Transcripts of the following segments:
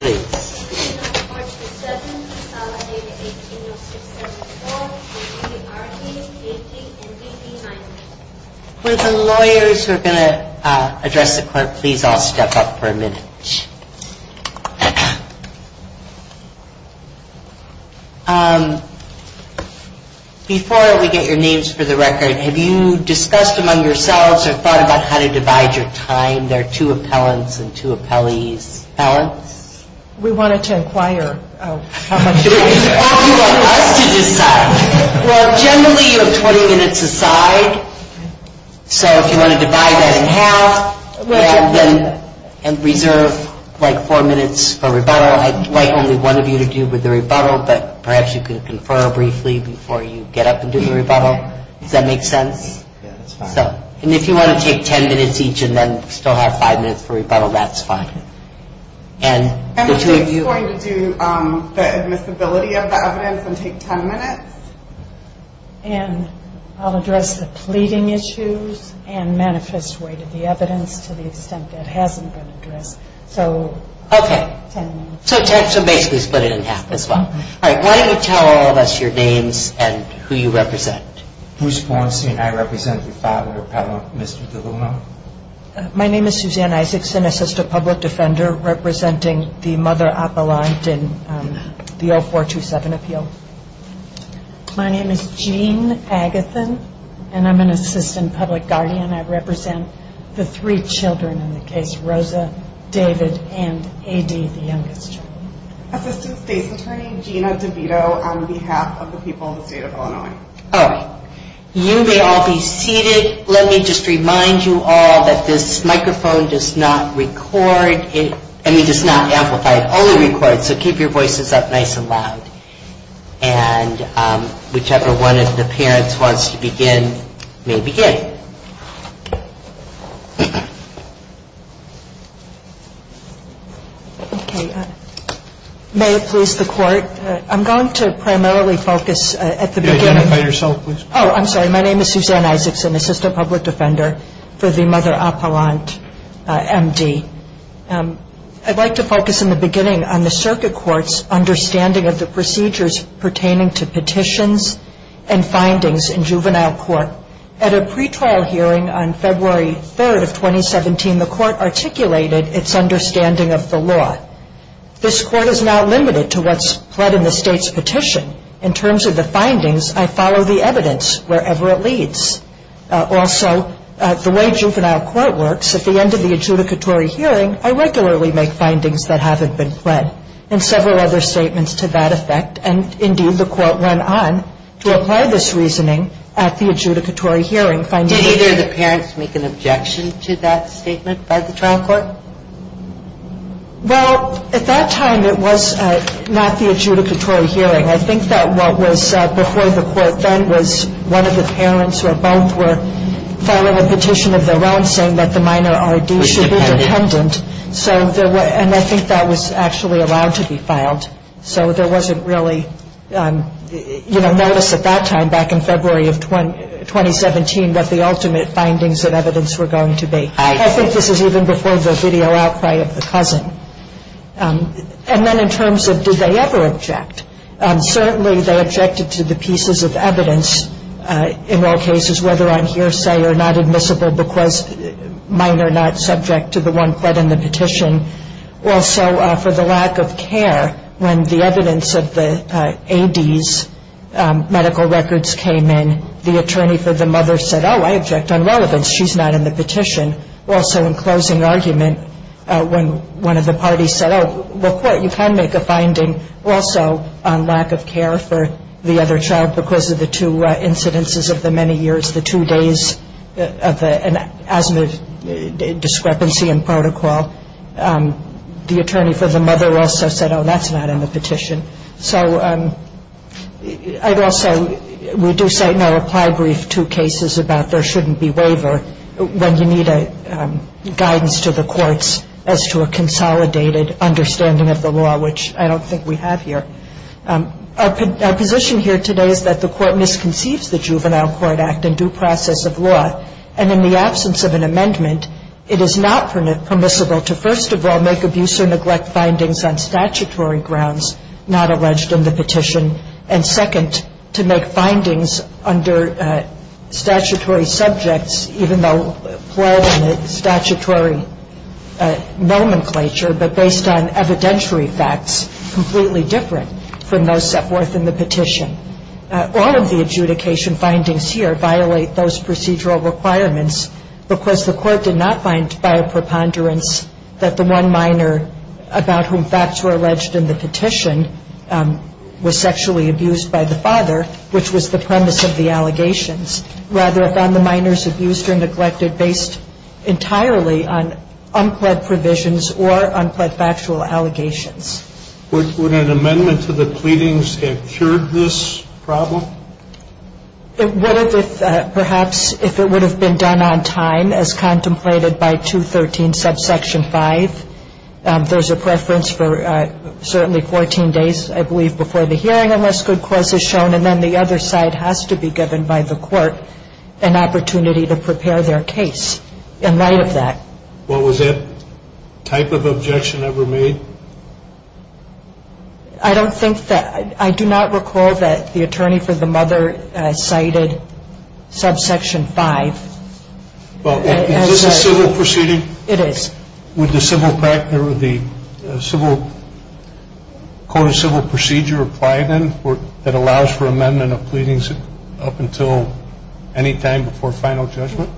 With the lawyers who are going to address the court, please all step up for a minute. Before we get your names for the record, have you discussed among yourselves or thought about how to divide your time? There are two appellants and two appellees. Alan? We wanted to inquire how much time you want us to decide. Well, generally you have 20 minutes a side, so if you want to divide that in half and reserve like four minutes for rebuttal, I'd like only one of you to do with the rebuttal, but perhaps you could confer briefly before you get up and do the rebuttal. Does that make sense? Yeah, that's fine. And if you want to take 10 minutes each and then still have five minutes for rebuttal, that's fine. I'm just going to do the admissibility of the evidence and take 10 minutes. And I'll address the pleading issues and manifest weight of the evidence to the extent that hasn't been addressed, so 10 minutes. Okay, so basically split it in half as well. All right, why don't you tell all of us your names and who you represent. Bruce Bornstein, I represent the father of Mr. DeLuna. My name is Suzanne Isaacson, assistant public defender representing the mother appellant in the 0427 appeal. My name is Jean Agathon and I'm an assistant public guardian. I represent the three children in the case, Rosa, David, and A.D., the youngest child. Assistant state's attorney, Gina DeVito, on behalf of the people of the state of Illinois. All right, you may all be seated. Let me just remind you all that this microphone does not record, I mean does not amplify, it only records, so keep your voices up nice and loud. And whichever one of the parents wants to begin may begin. Okay, may it please the court, I'm going to primarily focus at the beginning. Identify yourself please. Oh, I'm sorry, my name is Suzanne Isaacson, assistant public defender for the mother appellant M.D. I'd like to focus in the beginning on the circuit court's understanding of the procedures pertaining to petitions and findings in juvenile court. At a pre-trial hearing on February 3rd of 2017, the court articulated its understanding of the law. This court is now limited to what's pled in the state's petition. In terms of the findings, I follow the evidence wherever it leads. Also, the way juvenile court works, at the end of the adjudicatory hearing, I regularly make findings that haven't been pled, and several other statements to that effect, and Did either of the parents make an objection to that statement by the trial court? Well, at that time it was not the adjudicatory hearing. I think that what was before the court then was one of the parents or both were filing a petition of their own saying that the minor R.D. should be dependent, and I think that was actually allowed to be filed. So there wasn't really, you know, notice at that time back in February of 2017. that the ultimate findings of evidence were going to be. I think this is even before the video outcry of the cousin. And then in terms of did they ever object, certainly they objected to the pieces of evidence in all cases, whether on hearsay or not admissible because minor not subject to the one pled in the petition. Also, for the lack of care, when the evidence of the A.D.'s medical records came in, the mother said, oh, I object on relevance. She's not in the petition. Also, in closing argument, when one of the parties said, oh, well, you can make a finding also on lack of care for the other child because of the two incidences of the many years, the two days of an asthma discrepancy in protocol. The attorney for the mother also said, oh, that's not in the petition. So I'd also, we do cite in our reply brief two cases about there shouldn't be waiver when you need guidance to the courts as to a consolidated understanding of the law, which I don't think we have here. Our position here today is that the court misconceives the Juvenile Court Act and due process of law. And in the absence of an amendment, it is not permissible to first of all make abuse or neglect findings on statutory grounds not alleged in the petition. And second, to make findings under statutory subjects, even though pled in a statutory nomenclature, but based on evidentiary facts, completely different from those set forth in the petition. All of the adjudication findings here violate those procedural requirements because the court did not find by a preponderance that the one minor about whom facts were alleged in the petition was sexually abused by the father, which was the premise of the allegations. Rather, it found the minors abused or neglected based entirely on unpled provisions or unpled factual allegations. Would an amendment to the pleadings have cured this problem? It would have if perhaps if it would have been done on time as contemplated by 213 subsection 5. There's a preference for certainly 14 days, I believe, before the hearing unless good cause is shown. And then the other side has to be given by the court an opportunity to prepare their case in light of that. Well, was that type of objection ever made? I don't think that I do not recall that the attorney for the mother cited subsection 5. Is this a civil proceeding? It is. Would the civil code of civil procedure apply, then, that allows for amendment of pleadings up until any time before final judgment?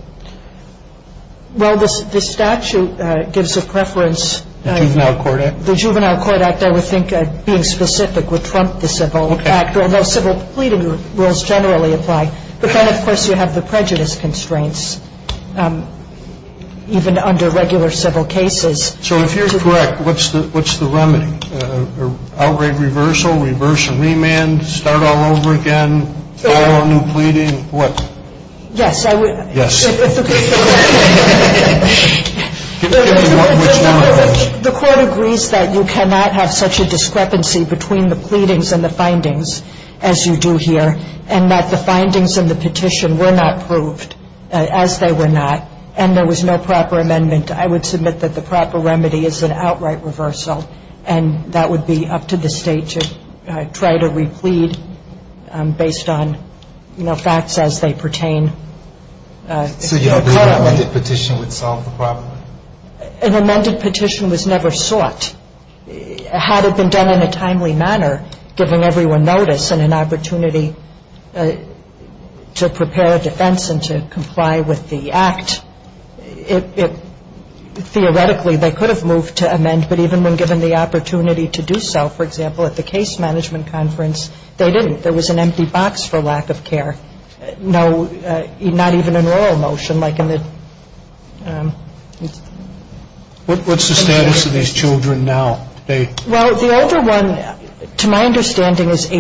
Well, the statute gives a preference. The Juvenile Court Act? The Juvenile Court Act, I would think, being specific, would trump the civil act, and the civil pleading rules generally apply. But then, of course, you have the prejudice constraints, even under regular civil cases. So if you're correct, what's the remedy? Outright reversal, reverse and remand, start all over again, file a new pleading? What? Yes. The court agrees that you cannot have such a discrepancy between the pleadings and the findings as you do here, and that the findings in the petition were not proved, as they were not, and there was no proper amendment. I would submit that the proper remedy is an outright reversal, and that would be the case. I think it's up to the State to try to replead based on, you know, facts as they pertain. So you don't believe an amended petition would solve the problem? An amended petition was never sought. Had it been done in a timely manner, giving everyone notice and an opportunity to prepare a defense and to comply with the act, it – theoretically, they could have moved to amend, but even when given the opportunity to do so, for example, at the case management conference, they didn't. They didn't. They didn't. They didn't. There was an empty box for lack of care. The question is, as the Court is aware, Section 213 requires that the petition of fact, the Public Guardian has a disability, and I can understand the public guardian's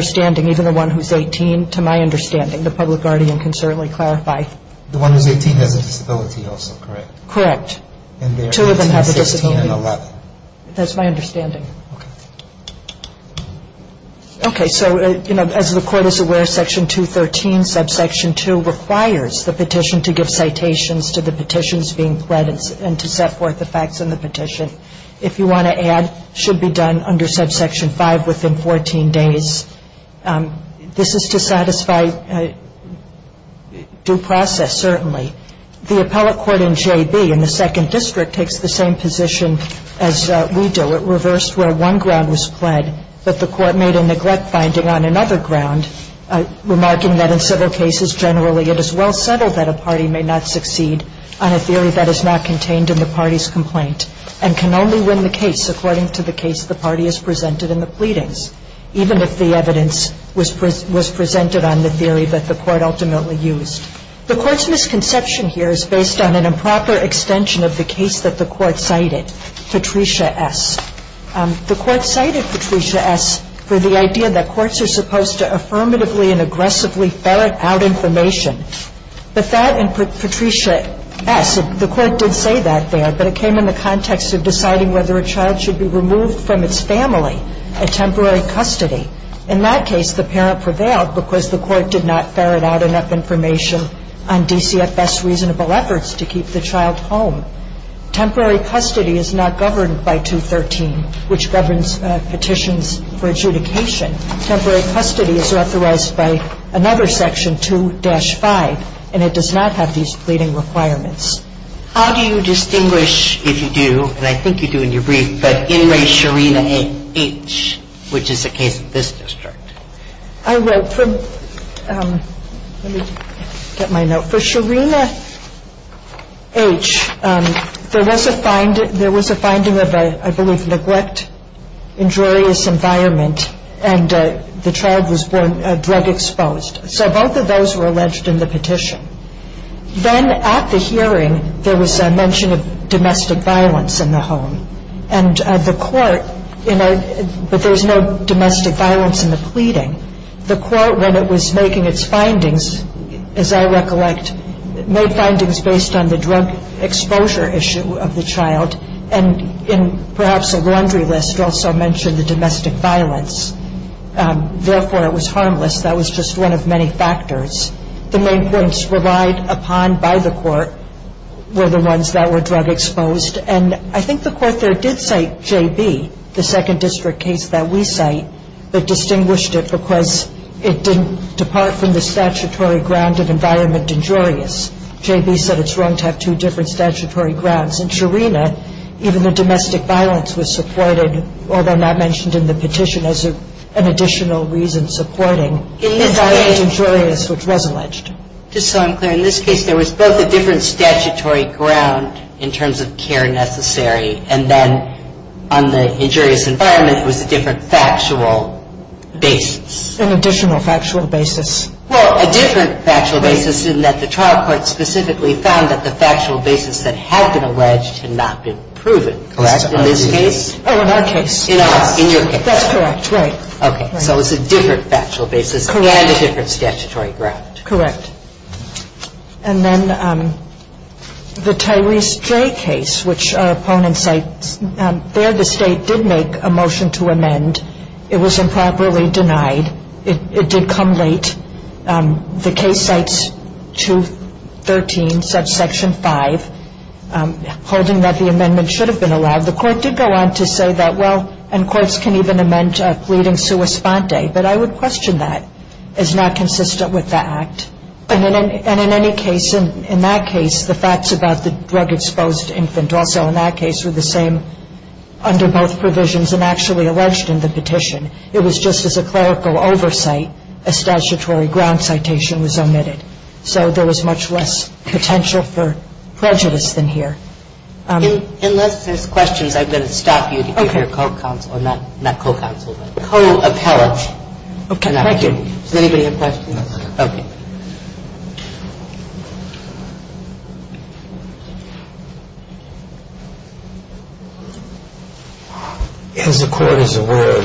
understanding, even the one who's 18, to my understanding. The Public Guardian can certainly clarify. The one who's 18 has a disability also, correct? Correct. And they are 18, 16, and 11. This is to satisfy due process, certainly. The appellate court in JB, in the second district, takes the same position as we do. It reversed where one ground was pled, but the court made a neglect finding on another ground, remarking that in civil cases generally it is well settled that a party may not succeed on a theory that is not contained in the party's complaint, and can only win the case according to the case the party has presented in the pleadings, even if the evidence was presented on the theory that the court ultimately used. The court's misconception here is based on an improper extension of the case that the court cited, Patricia S. The court cited Patricia S for the idea that courts are supposed to affirmatively and aggressively ferret out information. But that and Patricia S, the court did say that there, but it came in the context of deciding whether a child should be removed from its family at temporary custody. In that case, the parent prevailed because the court did not ferret out enough information on DCFS's reasonable efforts to keep the child home. Temporary custody is not governed by 213, which governs petitions for adjudication. Temporary custody is authorized by another section, 2-5, and it does not have these pleading requirements. How do you distinguish, if you do, and I think you do in your brief, but in re Sharina H., which is the case of this district? I wrote from, let me get my note. For Sharina H., there was a finding of a, I believe, neglect, injurious environment, and the child was drug exposed. So both of those were alleged in the petition. Then at the hearing, there was a mention of domestic violence in the home. And the court, but there was no domestic violence in the pleading. The court, when it was making its findings, as I recollect, made findings based on the drug exposure issue of the child, and in perhaps a laundry list also mentioned the domestic violence. Therefore, it was harmless. That was just one of many factors. The main points relied upon by the court were the ones that were drug exposed. And I think the court there did cite J.B., the second district case that we cite, but distinguished it because it didn't depart from the statutory ground of environment injurious. J.B. said it's wrong to have two different statutory grounds. In Sharina, even the domestic violence was supported, although not mentioned in the petition as an additional reason supporting environment injurious, which was alleged. Just so I'm clear, in this case, there was both a different statutory ground in terms of care necessary, and then on the injurious environment was a different factual basis. An additional factual basis. Well, a different factual basis in that the trial court specifically found that the factual basis that had been alleged had not been proven, correct, in this case? Oh, in our case. In your case. That's correct, right. Okay. So it's a different factual basis and a different statutory ground. Correct. And then the Tyrese J. case, which our opponents cite, there the State did make a motion to amend. It was improperly denied. It did come late. The case cites 213, subsection 5, holding that the amendment should have been allowed. The court did go on to say that, well, and courts can even amend a pleading sua sponte, but I would question that as not consistent with the act. And in any case, in that case, the facts about the drug-exposed infant also in that case were the same under both provisions and actually alleged in the petition. It was just as a clerical oversight, a statutory ground citation was omitted. So there was much less potential for prejudice than here. Unless there's questions, I'm going to stop you to get your co-counsel, not co-counsel, but co-appellate. Okay. Thank you. Does anybody have questions? No, sir. Okay. As the court is aware,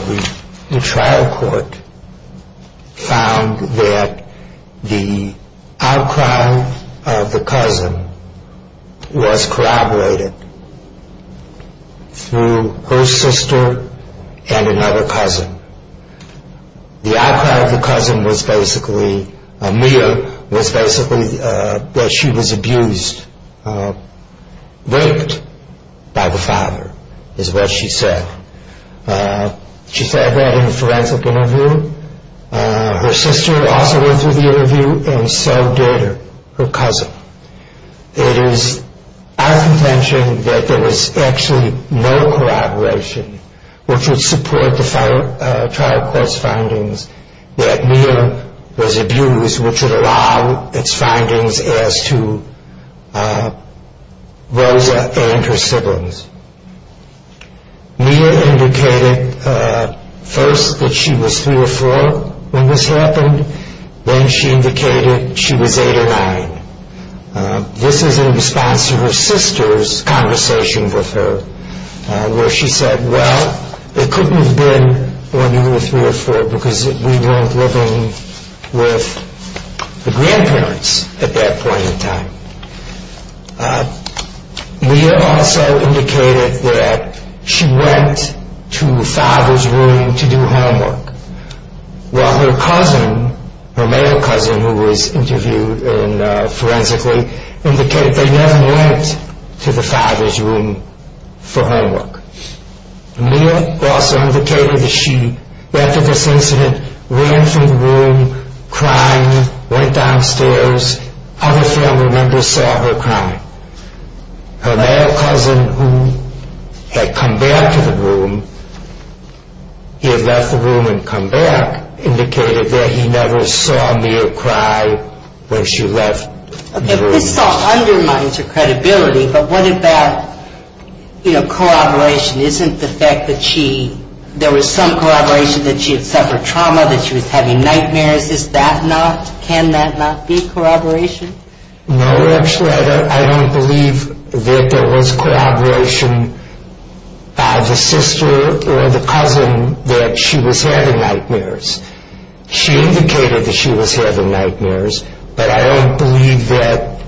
the trial court found that the outcry of the cousin was corroborated through her sister and another cousin. The outcry of the cousin was basically, was basically that she was abused, raped by the father is what she said. She said that in a forensic interview. Her sister also went through the interview and so did her cousin. It is our contention that there was actually no corroboration which would support the trial court's findings that Mia was abused, which would allow its findings as to Rosa and her siblings. Mia indicated first that she was three or four when this happened. Then she indicated she was eight or nine. This is in response to her sister's conversation with her where she said, well, it couldn't have been when you were three or four because we weren't living with the grandparents at that point in time. Mia also indicated that she went to the father's room to do homework, while her cousin, her male cousin who was interviewed forensically, indicated they never went to the father's room for homework. Mia also indicated that she, after this incident, ran from the room, crying, went downstairs. Other family members saw her crying. Her male cousin who had come back to the room, he had left the room and come back, indicated that he never saw Mia cry when she left the room. Okay, this all undermines her credibility, but what about corroboration? Isn't the fact that there was some corroboration that she had suffered trauma, that she was having nightmares? Is that not, can that not be corroboration? No, actually I don't believe that there was corroboration by the sister or the cousin that she was having nightmares. She indicated that she was having nightmares, but I don't believe that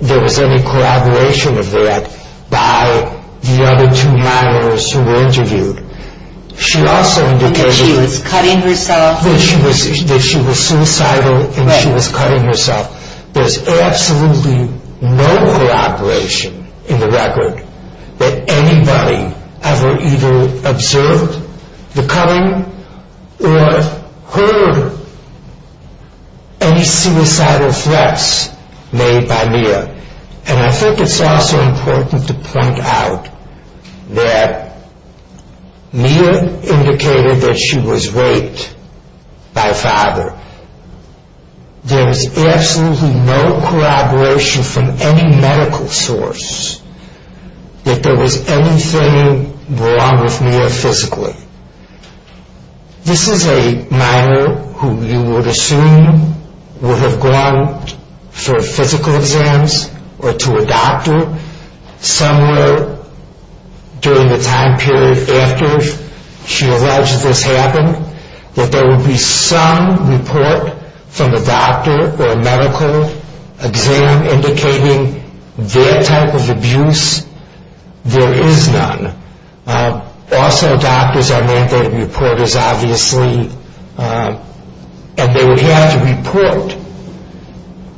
there was any corroboration of that by the other two minors who were interviewed. She also indicated that she was suicidal and she was cutting herself. There's absolutely no corroboration in the record that anybody ever either observed the cutting or heard any suicidal threats made by Mia. And I think it's also important to point out that Mia indicated that she was raped by a father. There's absolutely no corroboration from any medical source that there was anything wrong with Mia physically. This is a minor who you would assume would have gone for physical exams or to a doctor somewhere during the time period after she alleged this happened, that there would be some report from a doctor or medical exam indicating that type of abuse. There is none. Also doctors are mandated reporters obviously and they would have to report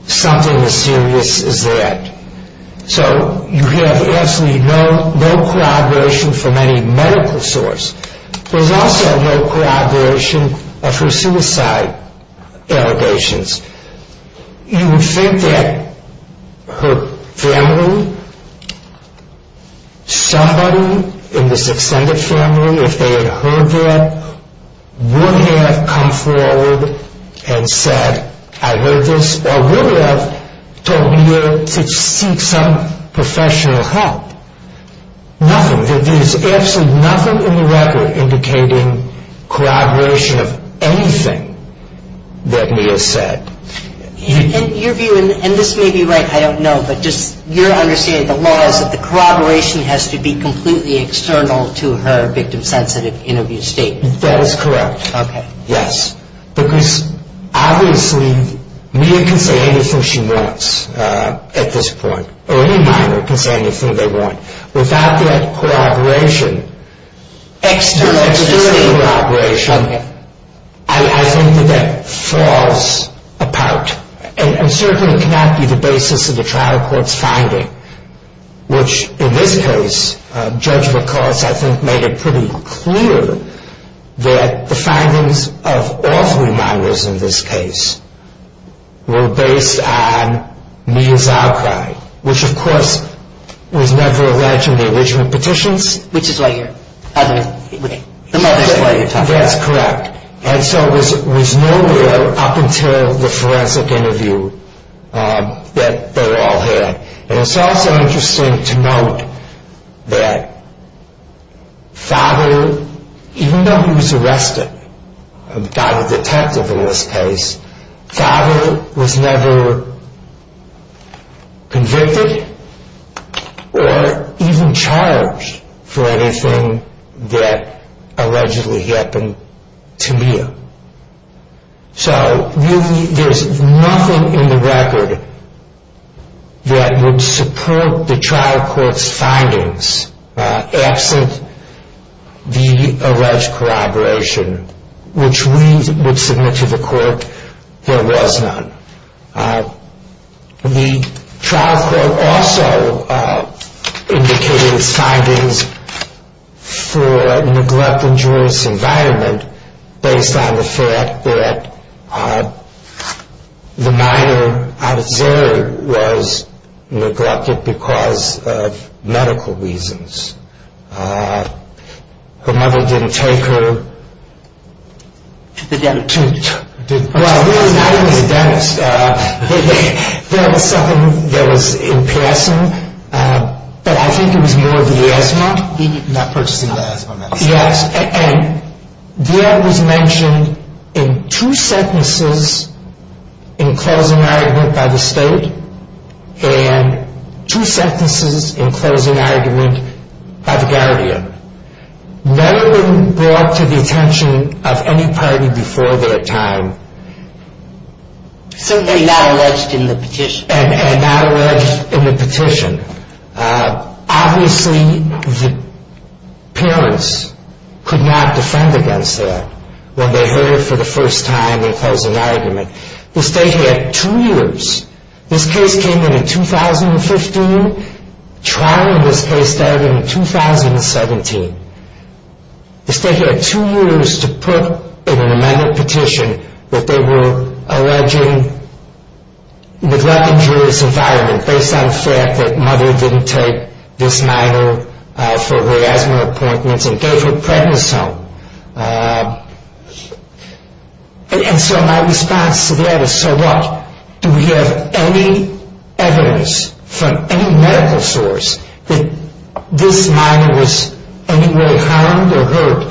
something as serious as that. So you have absolutely no corroboration from any medical source. There's also no corroboration of her suicide allegations. You would think that her family, somebody in this extended family, if they had heard that, would have come forward and said, I heard this, or would have told Mia to seek some professional help. Nothing. There is absolutely nothing in the record indicating corroboration of anything that Mia said. And your view, and this may be right, I don't know, but just your understanding of the law is that the corroboration has to be completely external to her victim-sensitive interview statement. That is correct, yes. Because obviously Mia can say anything she wants at this point, or any minor can say anything they want. Without that corroboration, external corroboration, I think that that falls apart and certainly cannot be the basis of the trial court's finding, which in this case, Judge McCoss I think made it pretty clear that the findings of all three minors in this case were based on Mia's outcry, which of course was never alleged in the original petitions. Which is why you're talking. That's correct. And so it was nowhere up until the forensic interview that they were all heard. And it's also interesting to note that Father, even though he was arrested, got a detective in this case, Father was never convicted or even charged for anything that allegedly happened to Mia. So there's nothing in the record that would support the trial court's findings absent the alleged corroboration, which we would submit to the court there was none. The trial court also indicated its findings for neglect in jury's environment based on the fact that the minor out of zero was neglected because of medical reasons. Her mother didn't take her to the dentist. Well, not in the dentist. That was something that was in passing. But I think it was more of the asthma. Not purchasing the asthma medicine. Yes. And that was mentioned in two sentences in closing argument by the state and two sentences in closing argument by the guardian. Never been brought to the attention of any party before their time. Simply not alleged in the petition. And not alleged in the petition. Obviously, the parents could not defend against that when they heard it for the first time in closing argument. The state had two years. This case came in in 2015. Trial in this case started in 2017. The state had two years to put in an amended petition that they were alleging neglect in jury's environment based on the fact that mother didn't take this minor for her asthma appointments and gave her prednisone. And so my response to that is, so what? Do we have any evidence from any medical source that this minor was in any way harmed or hurt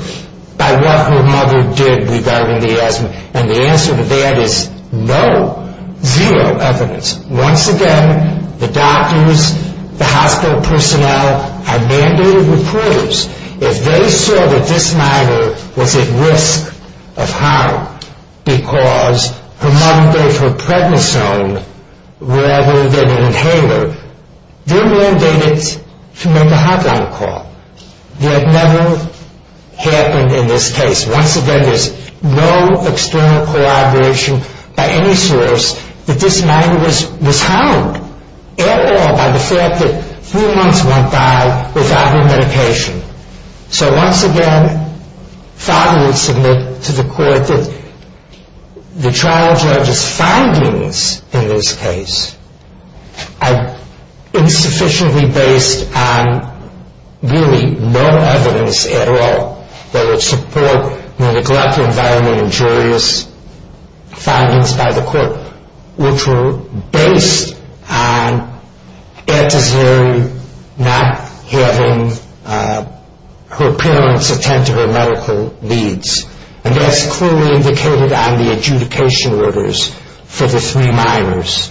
by what her mother did regarding the asthma? And the answer to that is no. Zero evidence. Once again, the doctors, the hospital personnel, I mandated reporters. If they saw that this minor was at risk of harm because her mother gave her prednisone rather than an inhaler, they're mandated to make a hotline call. That never happened in this case. Once again, there's no external corroboration by any source that this minor was harmed at all by the fact that three months went by without her medication. So once again, father would submit to the court that the trial judge's findings in this case are insufficiently based on really no evidence at all that would support the neglect environment in jury's findings by the court, which were based on Etta's hearing not having her parents attend to her medical needs. And that's clearly indicated on the adjudication orders for the three minors.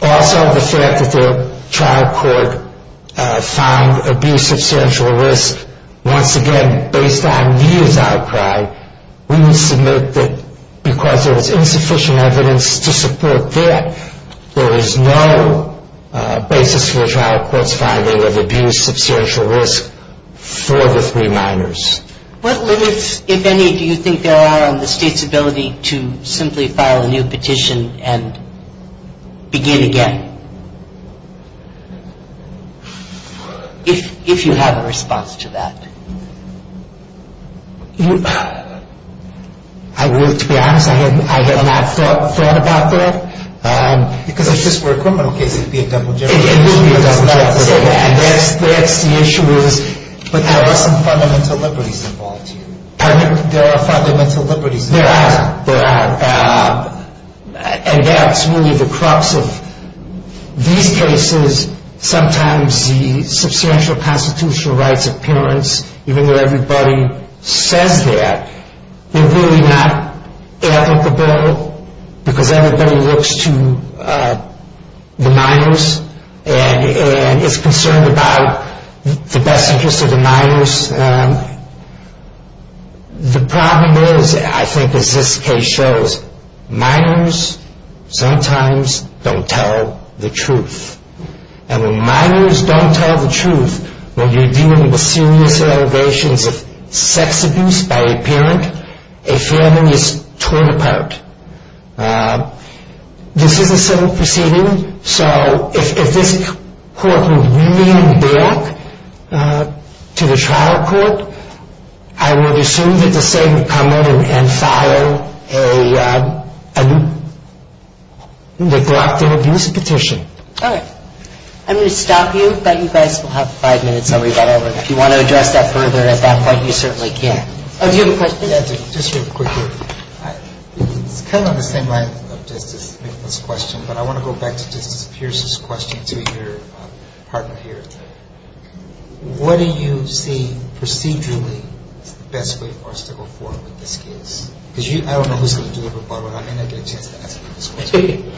Also, the fact that the trial court found abuse substantial risk, once again, based on Nia's outcry, we would submit that because there was insufficient evidence to support that, there is no basis for a trial court's finding of abuse substantial risk for the three minors. What limits, if any, do you think there are on the state's ability to simply file a new petition and begin again? If you have a response to that. To be honest, I have not thought about that. Because if this were a criminal case, it would be a double-judgmental case. It would be a double-judgmental case. And that's the issue. But there are some fundamental liberties involved here. There are fundamental liberties involved. There are. There are. And that's really the crux of these cases. Sometimes the substantial constitutional rights of parents, even though everybody says that, they're really not applicable because everybody looks to the minors and is concerned about the best interests of the minors. The problem is, I think as this case shows, minors sometimes don't tell the truth. And when minors don't tell the truth, when you're dealing with serious allegations of sex abuse by a parent, a family is torn apart. This is a civil proceeding. So if this court would lean back to the trial court, I would assume that the state would come in and file a neglect and abuse petition. All right. I'm going to stop you. I bet you guys will have five minutes. If you want to address that further at that point, you certainly can. Do you have a question? Yes, just real quickly. It's kind of on the same line of justice, this question, but I want to go back to Justice Pierce's question to your partner here. What do you see procedurally as the best way for us to go forward with this case? Because I don't know who's going to deliver, but I may not get a chance to ask you this question.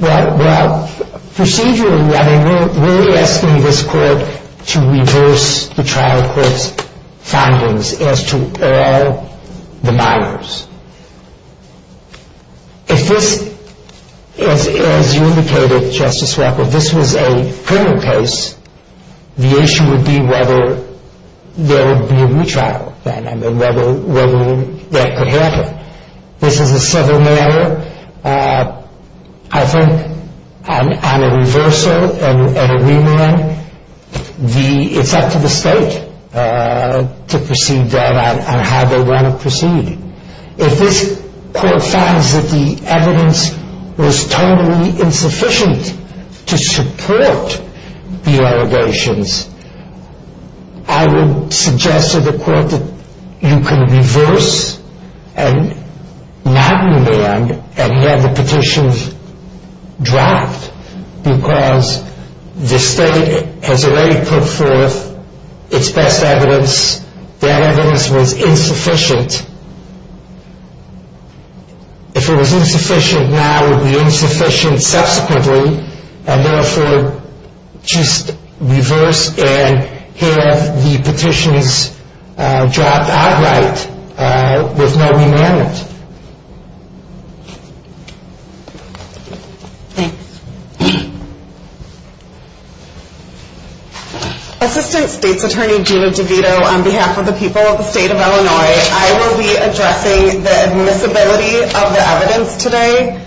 Well, procedurally, I mean, we're asking this court to reverse the trial court's findings as to all the minors. If this, as you indicated, Justice Walker, this was a criminal case, the issue would be whether there would be a retrial then and whether that could happen. This is a civil matter. I think on a reversal and a remand, it's up to the state to proceed on how they want to proceed. If this court finds that the evidence was totally insufficient to support the allegations, I would suggest to the court that you can reverse and not remand and have the petitions dropped because the state has already put forth its best evidence. That evidence was insufficient. If it was insufficient now, it would be insufficient subsequently and therefore just reverse and have the petitions dropped outright with no remand. Thanks. Assistant State's Attorney Gina DeVito, on behalf of the people of the state of Illinois, I will be addressing the admissibility of the evidence today.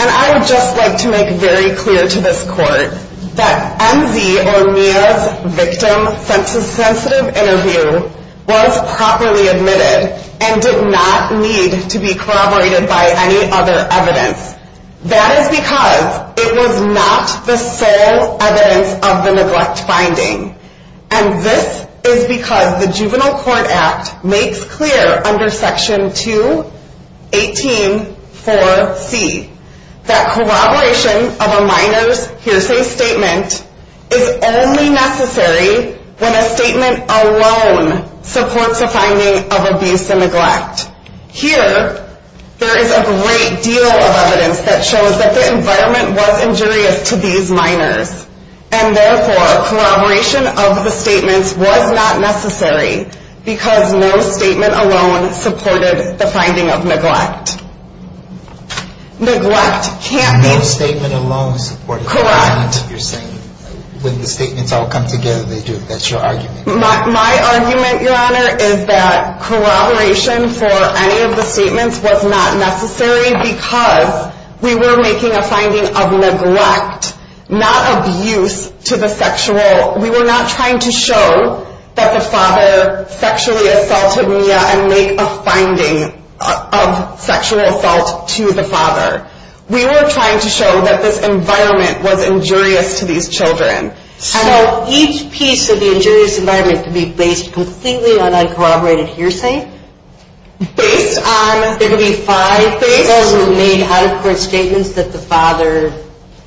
I would just like to make very clear to this court that M.Z. or Mia's victim census-sensitive interview was properly admitted and did not need to be corroborated by any other evidence. That is because it was not the sole evidence of the neglect finding. And this is because the Juvenile Court Act makes clear under Section 218.4.C that corroboration of a minor's hearsay statement is only necessary when a statement alone supports a finding of abuse and neglect. Here, there is a great deal of evidence that shows that the environment was injurious to these minors and therefore corroboration of the statements was not necessary because no statement alone supported the finding of neglect. Neglect can't be- No statement alone supported- Correct. You're saying when the statements all come together, they do. That's your argument. My argument, Your Honor, is that corroboration for any of the statements was not necessary because we were making a finding of neglect, not abuse to the sexual- We were not trying to show that the father sexually assaulted Mia and make a finding of sexual assault to the father. We were trying to show that this environment was injurious to these children. So each piece of the injurious environment can be based completely on uncorroborated hearsay? Based on- Those who made out-of-court statements that the father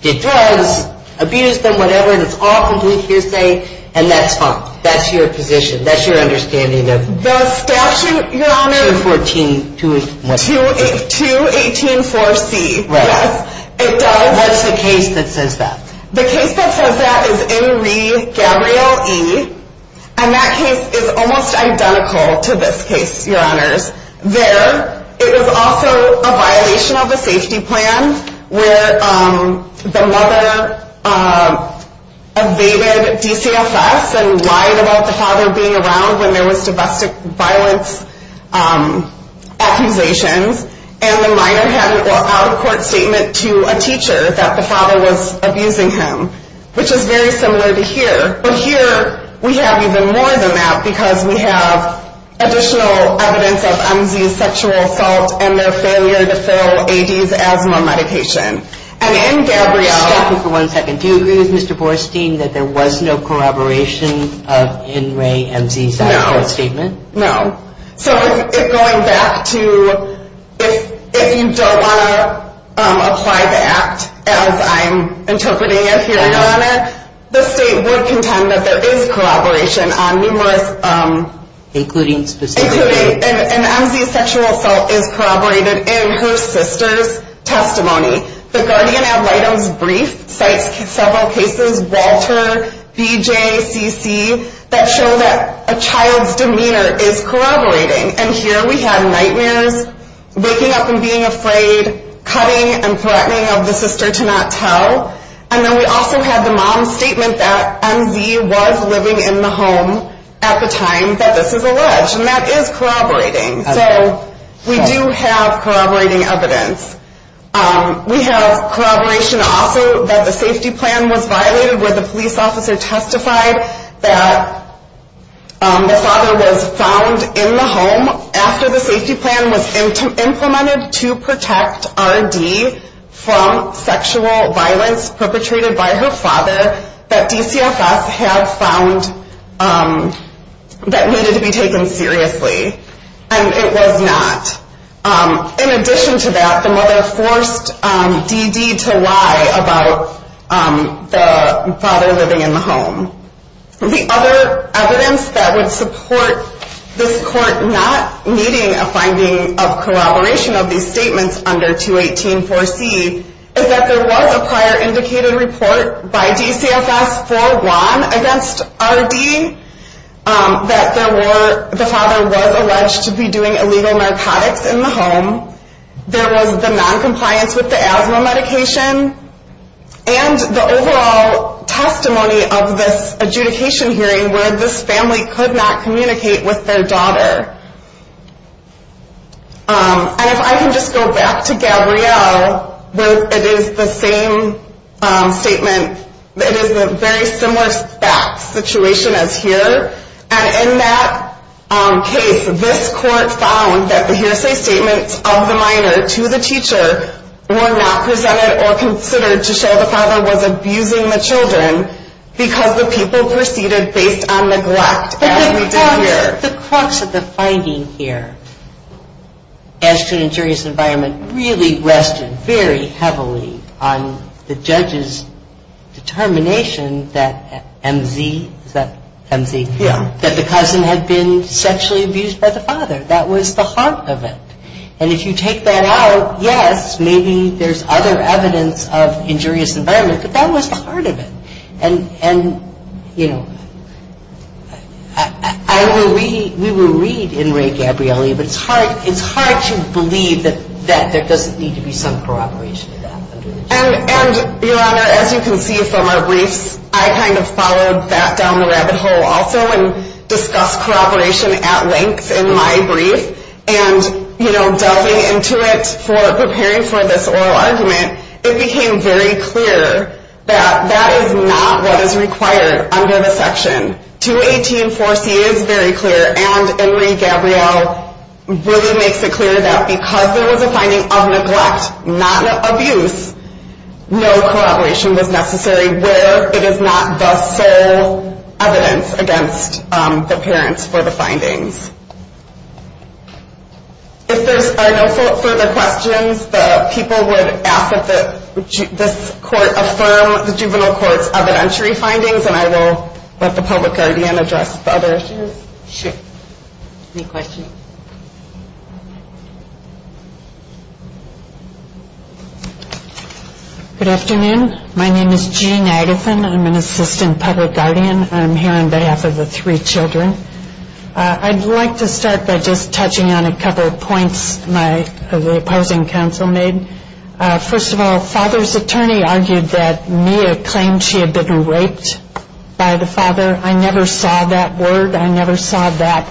did drugs, abused them, whatever, and it's all complete hearsay, and that's fine. That's your position. That's your understanding of- The statute, Your Honor- 214-2-18-4-C. Right. It does- What's the case that says that? The case that says that is N. Re. Gabrielle E. And that case is almost identical to this case, Your Honors. There, it was also a violation of a safety plan where the mother evaded DCFS and lied about the father being around when there was domestic violence accusations. And the minor had an out-of-court statement to a teacher that the father was abusing him, which is very similar to here. But here, we have even more than that because we have additional evidence of M. Z.'s sexual assault and their failure to fill A. D.'s asthma medication. And in Gabrielle- Excuse me for one second. Do you agree with Mr. Borstein that there was no corroboration of N. Re. M. Z.'s out-of-court statement? No. No. So it's going back to if you don't want to apply the act, as I'm interpreting it here, Your Honor, the state would contend that there is corroboration on numerous- Including specific- Including- and M. Z.'s sexual assault is corroborated in her sister's testimony. The Guardian Ad Litems Brief cites several cases, Walter, BJ, CC, that show that a child's demeanor is corroborating. And here, we have nightmares, waking up and being afraid, cutting and threatening of the sister to not tell. And then we also have the mom's statement that M. Z. was living in the home at the time that this is alleged. And that is corroborating. Okay. So we do have corroborating evidence. We have corroboration also that the safety plan was violated where the police officer testified that the father was found in the home after the safety plan was implemented to protect R.D. from sexual violence perpetrated by her father that DCFS had found that needed to be taken seriously. And it was not. In addition to that, the mother forced D.D. to lie about the father living in the home. The other evidence that would support this court not needing a finding of corroboration of these statements under 218-4C is that there was a prior indicated report by DCFS for Juan against R.D. that the father was alleged to be doing illegal narcotics in the home. There was the noncompliance with the asthma medication. And the overall testimony of this adjudication hearing where this family could not communicate with their daughter. And if I can just go back to Gabrielle, it is the same statement. It is a very similar fact situation as here. And in that case, this court found that the hearsay statements of the minor to the teacher were not presented or considered to show the father was abusing the children because the people proceeded based on neglect as we did here. But the crux of the finding here as to an injurious environment really rested very heavily on the judge's determination that M.Z. Is that M.Z.? Yeah. That the cousin had been sexually abused by the father. That was the heart of it. And if you take that out, yes, maybe there's other evidence of injurious environment, but that was the heart of it. And, you know, we will read in Ray Gabrielli, but it's hard to believe that there doesn't need to be some corroboration of that. And, Your Honor, as you can see from our briefs, I kind of followed that down the rabbit hole also and discussed corroboration at length in my brief. And, you know, delving into it for preparing for this oral argument, it became very clear that that is not what is required under the section. 218-4C is very clear, and Ray Gabrielli really makes it clear that because there was a finding of neglect, not abuse, no corroboration was necessary where it is not the sole evidence against the parents for the findings. If there are no further questions, the people would ask that this court affirm the juvenile court's evidentiary findings, and I will let the public guardian address the other issues. Sure. Any questions? Good afternoon. My name is Jean Idafin. I'm an assistant public guardian. I'm here on behalf of the three children. I'd like to start by just touching on a couple of points my opposing counsel made. First of all, Father's attorney argued that Mia claimed she had been raped by the father. I never saw that word. I never saw that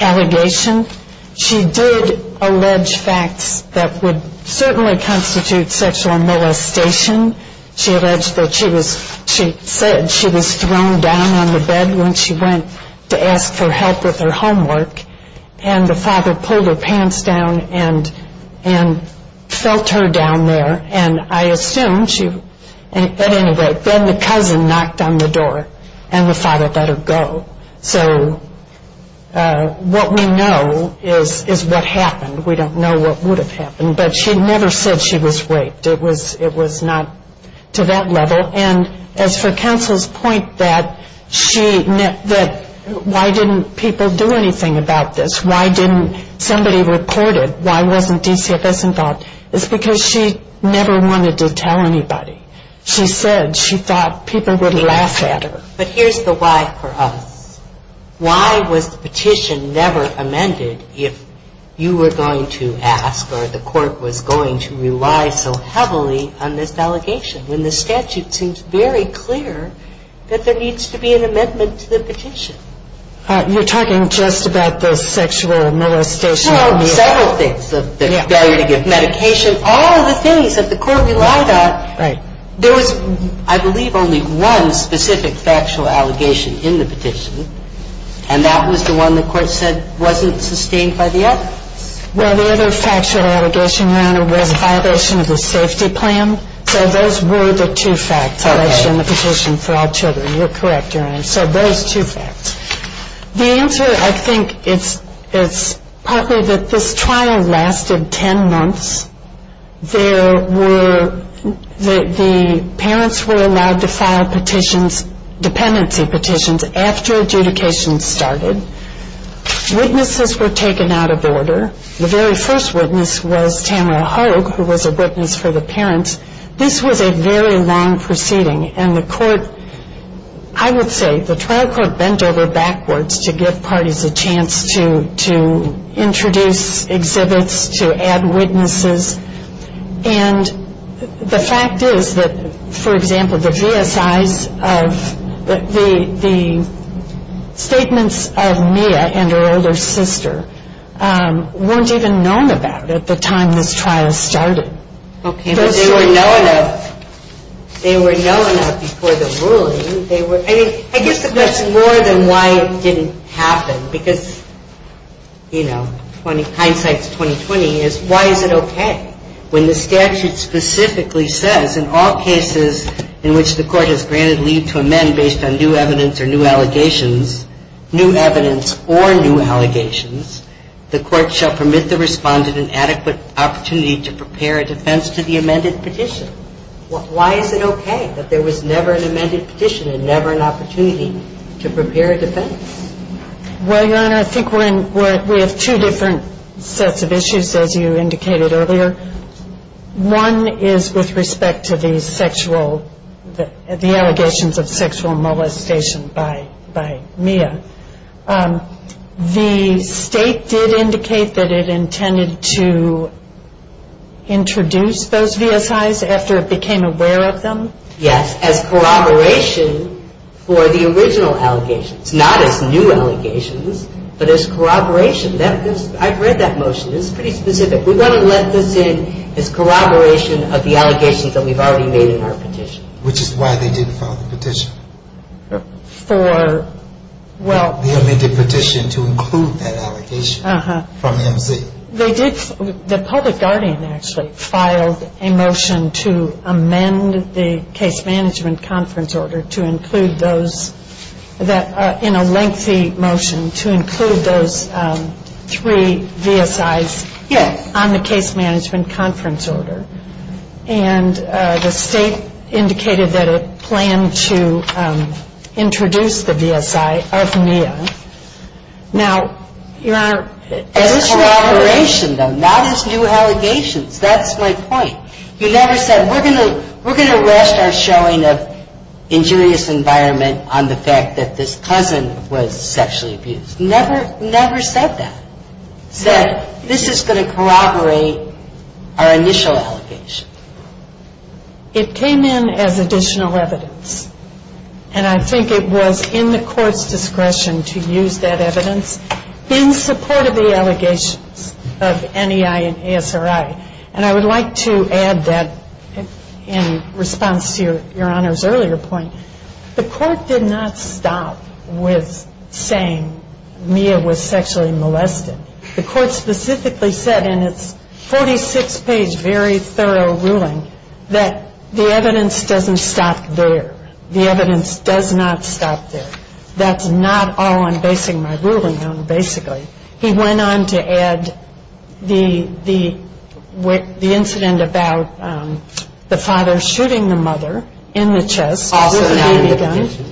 allegation. She did allege facts that would certainly constitute sexual molestation. She alleged that she was thrown down on the bed when she went to ask for help with her homework, and the father pulled her pants down and felt her down there, and I assumed she was raped. Then the cousin knocked on the door, and the father let her go. So what we know is what happened. We don't know what would have happened, but she never said she was raped. It was not to that level, and as for counsel's point that why didn't people do anything about this? Why didn't somebody report it? Why wasn't DCFS involved? It's because she never wanted to tell anybody. She said she thought people would laugh at her. But here's the why for us. Why was the petition never amended if you were going to ask or the court was going to rely so heavily on this allegation when the statute seems very clear that there needs to be an amendment to the petition? You're talking just about the sexual molestation. No, several things, the failure to give medication, all the things that the court relied on. There was, I believe, only one specific factual allegation in the petition, and that was the one the court said wasn't sustained by the evidence. Well, the other factual allegation, Your Honor, was a violation of the safety plan. So those were the two facts that I showed in the petition for all children. You're correct, Your Honor. So those two facts. The answer, I think, is partly that this trial lasted 10 months. There were, the parents were allowed to file petitions, dependency petitions, after adjudication started. Witnesses were taken out of order. The very first witness was Tamara Hoag, who was a witness for the parents. This was a very long proceeding, and the court, I would say, the trial court bent over backwards to give parties a chance to introduce exhibits, to add witnesses, and the fact is that, for example, the V.S.I.s of, the statements of Mia and her older sister weren't even known about at the time this trial started. Okay. They were known of before the ruling. I guess the question is more than why it didn't happen, because, you know, hindsight's 20-20, is why is it okay when the statute specifically says in all cases in which the court has granted leave to amend based on new evidence or new allegations, new evidence or new allegations, the court shall permit the respondent an adequate opportunity to prepare a defense to the amended petition. Why is it okay that there was never an amended petition and never an opportunity to prepare a defense? Well, Your Honor, I think we're in, we have two different sets of issues, as you indicated earlier. One is with respect to the sexual, the allegations of sexual molestation by Mia. The state did indicate that it intended to introduce those V.S.I.s after it became aware of them. Yes, as corroboration for the original allegations. Not as new allegations, but as corroboration. I've read that motion. It's pretty specific. We're going to let this in as corroboration of the allegations that we've already made in our petition. Which is why they didn't file the petition. For, well. The amended petition to include that allegation from M.C. The public guardian actually filed a motion to amend the case management conference order to include those, in a lengthy motion, to include those three V.S.I.s on the case management conference order. And the state indicated that it planned to introduce the V.S.I. of Mia. Now, Your Honor. As corroboration, though, not as new allegations. That's my point. You never said, we're going to rest our showing of injurious environment on the fact that this cousin was sexually abused. Never, never said that. Said, this is going to corroborate our initial allegation. It came in as additional evidence. And I think it was in the court's discretion to use that evidence in support of the allegations of NEI and ASRI. And I would like to add that in response to Your Honor's earlier point. The court did not stop with saying Mia was sexually molested. The court specifically said in its 46-page, very thorough ruling, that the evidence doesn't stop there. The evidence does not stop there. That's not all I'm basing my ruling on, basically. He went on to add the incident about the father shooting the mother in the chest. Also not in the petition.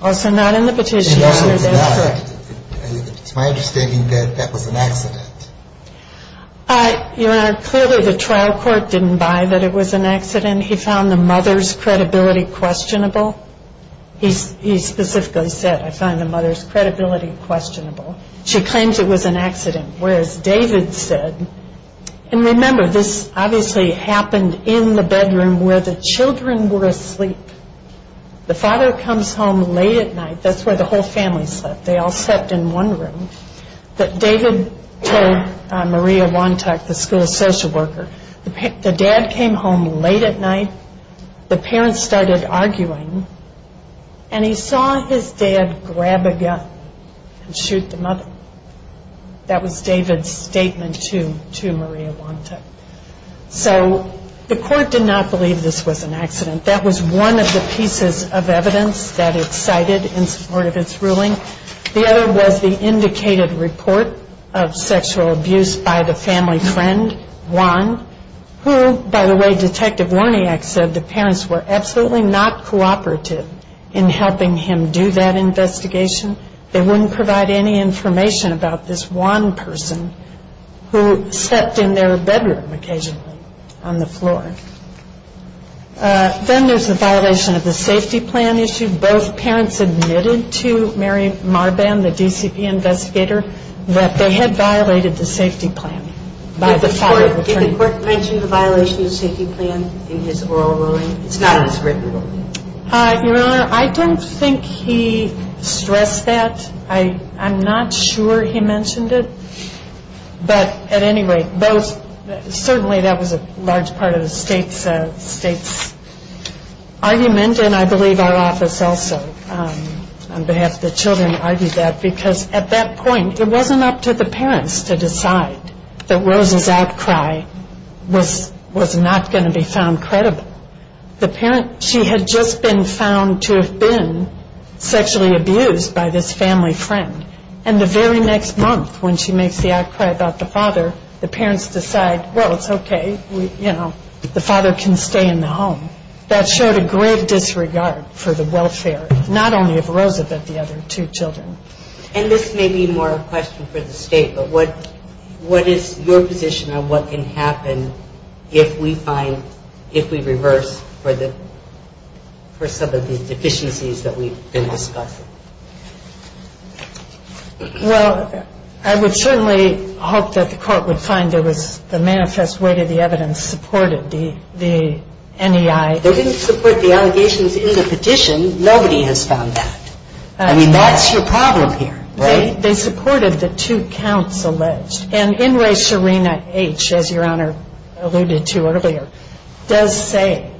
Also not in the petition. It's my understanding that that was an accident. Your Honor, clearly the trial court didn't buy that it was an accident. He found the mother's credibility questionable. He specifically said, I find the mother's credibility questionable. She claims it was an accident. Whereas David said, and remember this obviously happened in the bedroom where the children were asleep. The father comes home late at night. That's where the whole family slept. They all slept in one room. But David told Maria Wontek, the school social worker, the dad came home late at night. The parents started arguing. And he saw his dad grab a gun and shoot the mother. That was David's statement to Maria Wontek. So the court did not believe this was an accident. That was one of the pieces of evidence that it cited in support of its ruling. The other was the indicated report of sexual abuse by the family friend, Juan, who, by the way, Detective Warniak said the parents were absolutely not cooperative in helping him do that investigation. They wouldn't provide any information about this Juan person who stepped in their bedroom occasionally on the floor. Then there's the violation of the safety plan issue. Both parents admitted to Mary Marban, the DCP investigator, that they had violated the safety plan. Did the court mention the violation of the safety plan in his oral ruling? It's not in his written ruling. Your Honor, I don't think he stressed that. I'm not sure he mentioned it. But at any rate, certainly that was a large part of the state's argument, and I believe our office also on behalf of the children argued that, because at that point it wasn't up to the parents to decide that Rose's outcry was not going to be found credible. She had just been found to have been sexually abused by this family friend. And the very next month when she makes the outcry about the father, the parents decide, well, it's okay, you know, the father can stay in the home. That showed a great disregard for the welfare, not only of Rose but the other two children. And this may be more a question for the state, but what is your position on what can happen if we reverse for some of the deficiencies that we've been discussing? Well, I would certainly hope that the court would find there was the manifest way that the evidence supported the NEI. They didn't support the allegations in the petition. Nobody has found that. I mean, that's your problem here, right? They supported the two counts alleged. And NRA Serena H., as Your Honor alluded to earlier, does say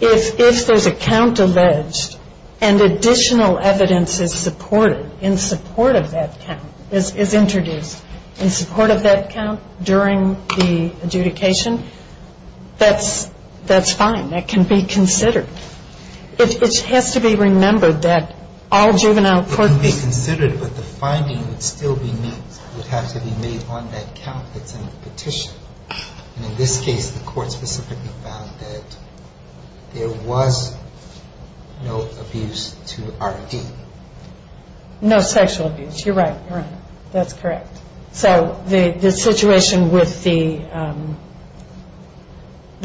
if there's a count alleged and additional evidence is supported in support of that count, is introduced in support of that count during the adjudication, that's fine. That can be considered. It has to be remembered that all juvenile court cases... It can be considered, but the finding would still have to be made on that count that's in the petition. And in this case, the court specifically found that there was no abuse to RD. No sexual abuse. You're right. You're right. That's correct. So the situation with the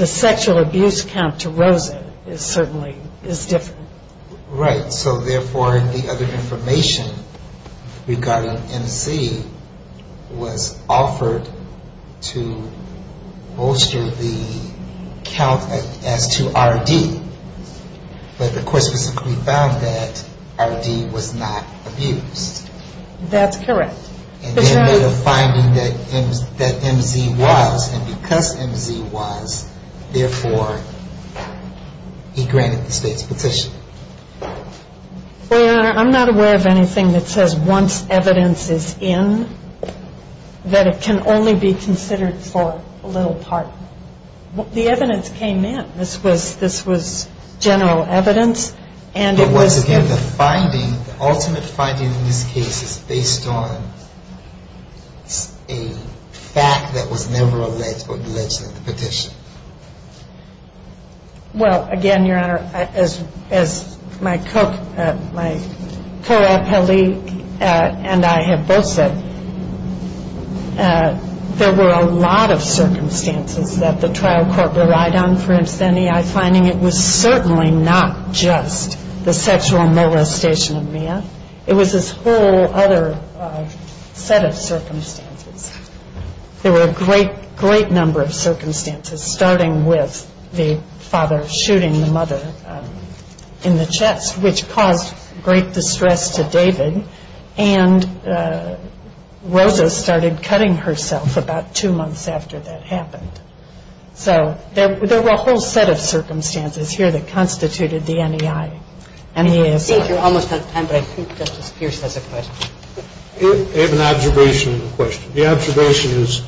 sexual abuse count to Rosa is certainly different. Right. So, therefore, the other information regarding MC was offered to bolster the count as to RD. But the court specifically found that RD was not abused. That's correct. And then made a finding that MZ was. And because MZ was, therefore, he granted the state's petition. Your Honor, I'm not aware of anything that says once evidence is in, that it can only be considered for a little part. The evidence came in. This was general evidence. Once again, the finding, the ultimate finding in this case is based on a fact that was never alleged or alleged in the petition. Well, again, Your Honor, as my co-appellee and I have both said, there were a lot of circumstances that the trial court relied on. For instance, I'm finding it was certainly not just the sexual molestation of Mia. It was this whole other set of circumstances. There were a great, great number of circumstances, starting with the father shooting the mother in the chest, which caused great distress to David. And Rosa started cutting herself about two months after that happened. So there were a whole set of circumstances here that constituted the NEI. And he is. I think you're almost out of time, but I think Justice Pierce has a question. I have an observation and a question. The observation is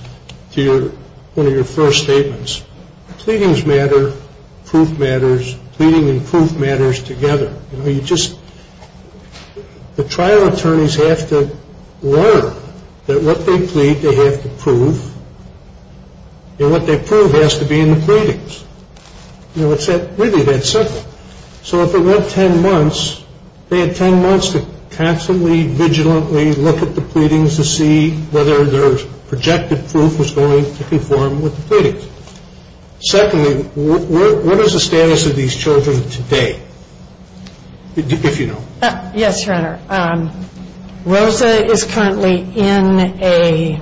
to one of your first statements. Pleadings matter. Proof matters. Pleading and proof matters together. The trial attorneys have to learn that what they plead they have to prove, and what they prove has to be in the pleadings. It's really that simple. So if it went ten months, they had ten months to constantly, vigilantly look at the pleadings to see whether their projected proof was going to conform with the pleadings. Secondly, what is the status of these children today, if you know? Yes, Your Honor. Rosa is currently in a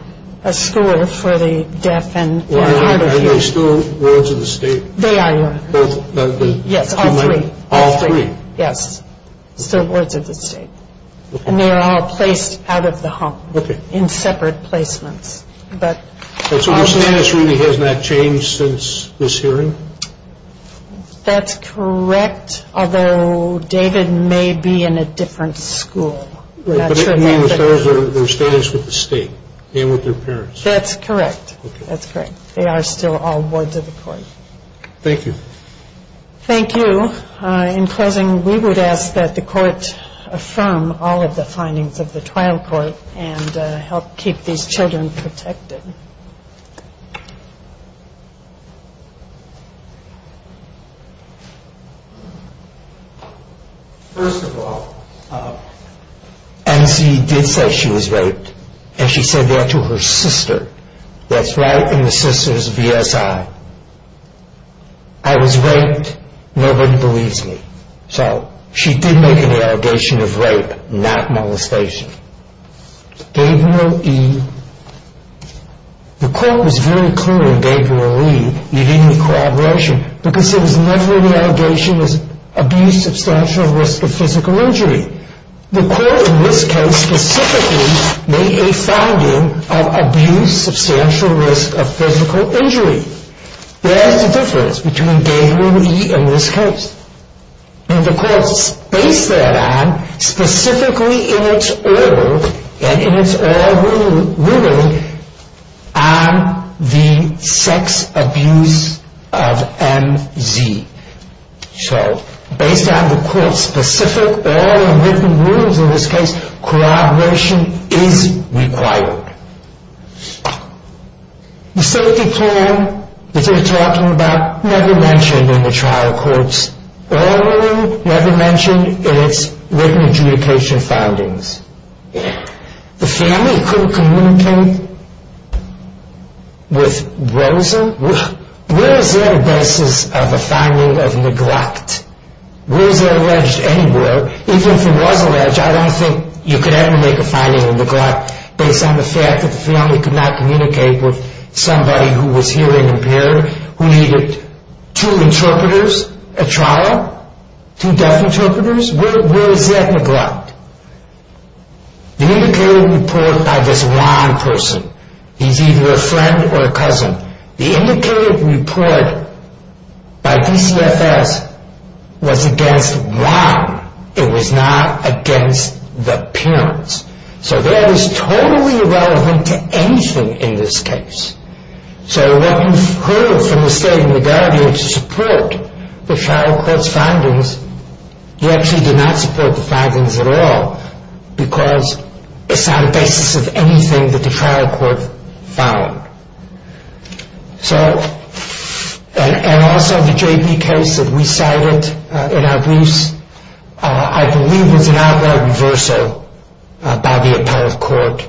school for the deaf and hard of hearing. Are they still wards of the state? They are, Your Honor. Both? Yes, all three. All three? Yes, still wards of the state. And they are all placed out of the home in separate placements. So their status really has not changed since this hearing? That's correct. Although David may be in a different school. You mean their status with the state and with their parents? That's correct. That's correct. They are still all wards of the court. Thank you. Thank you. In closing, we would ask that the court affirm all of the findings of the trial court and help keep these children protected. First of all, N.C. did say she was raped, and she said that to her sister. That's right in the sister's VSI. I was raped. Nobody believes me. So she did make an allegation of rape, not molestation. Gabriel E. The court was very clear in Gabriel E. He didn't need corroboration because it was never an allegation of abuse, substantial risk of physical injury. The court in this case specifically made a finding of abuse, substantial risk of physical injury. There's a difference between Gabriel E. and this case. And the court based that on specifically in its order and in its oral ruling on the sex abuse of M.Z. So based on the court's specific oral and written rulings in this case, corroboration is required. The safety plan that you're talking about never mentioned in the trial court's oral ruling, never mentioned in its written adjudication findings. The family couldn't communicate with Rosa. Where is there a basis of a finding of neglect? Rosa alleged anywhere. Even if it was alleged, I don't think you could ever make a finding of neglect based on the fact that the family could not communicate with somebody who was hearing impaired, who needed two interpreters at trial, two deaf interpreters. Where is that neglect? The indicated report by this Juan person, he's either a friend or a cousin. The indicated report by DCFS was against Juan. It was not against the parents. So that is totally irrelevant to anything in this case. So what you've heard from the state in regard to support the trial court's findings, you actually did not support the findings at all because it's not a basis of anything that the trial court found. And also the JP case that we cited in our briefs, I believe was an outright reversal by the appellate court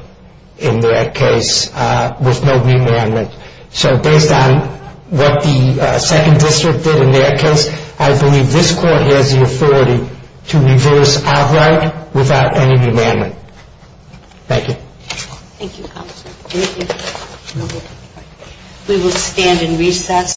in that case with no remandment. So based on what the second district did in that case, I believe this court has the authority to reverse outright without any remandment. Thank you. Thank you, counsel. Thank you. We will stand in recess.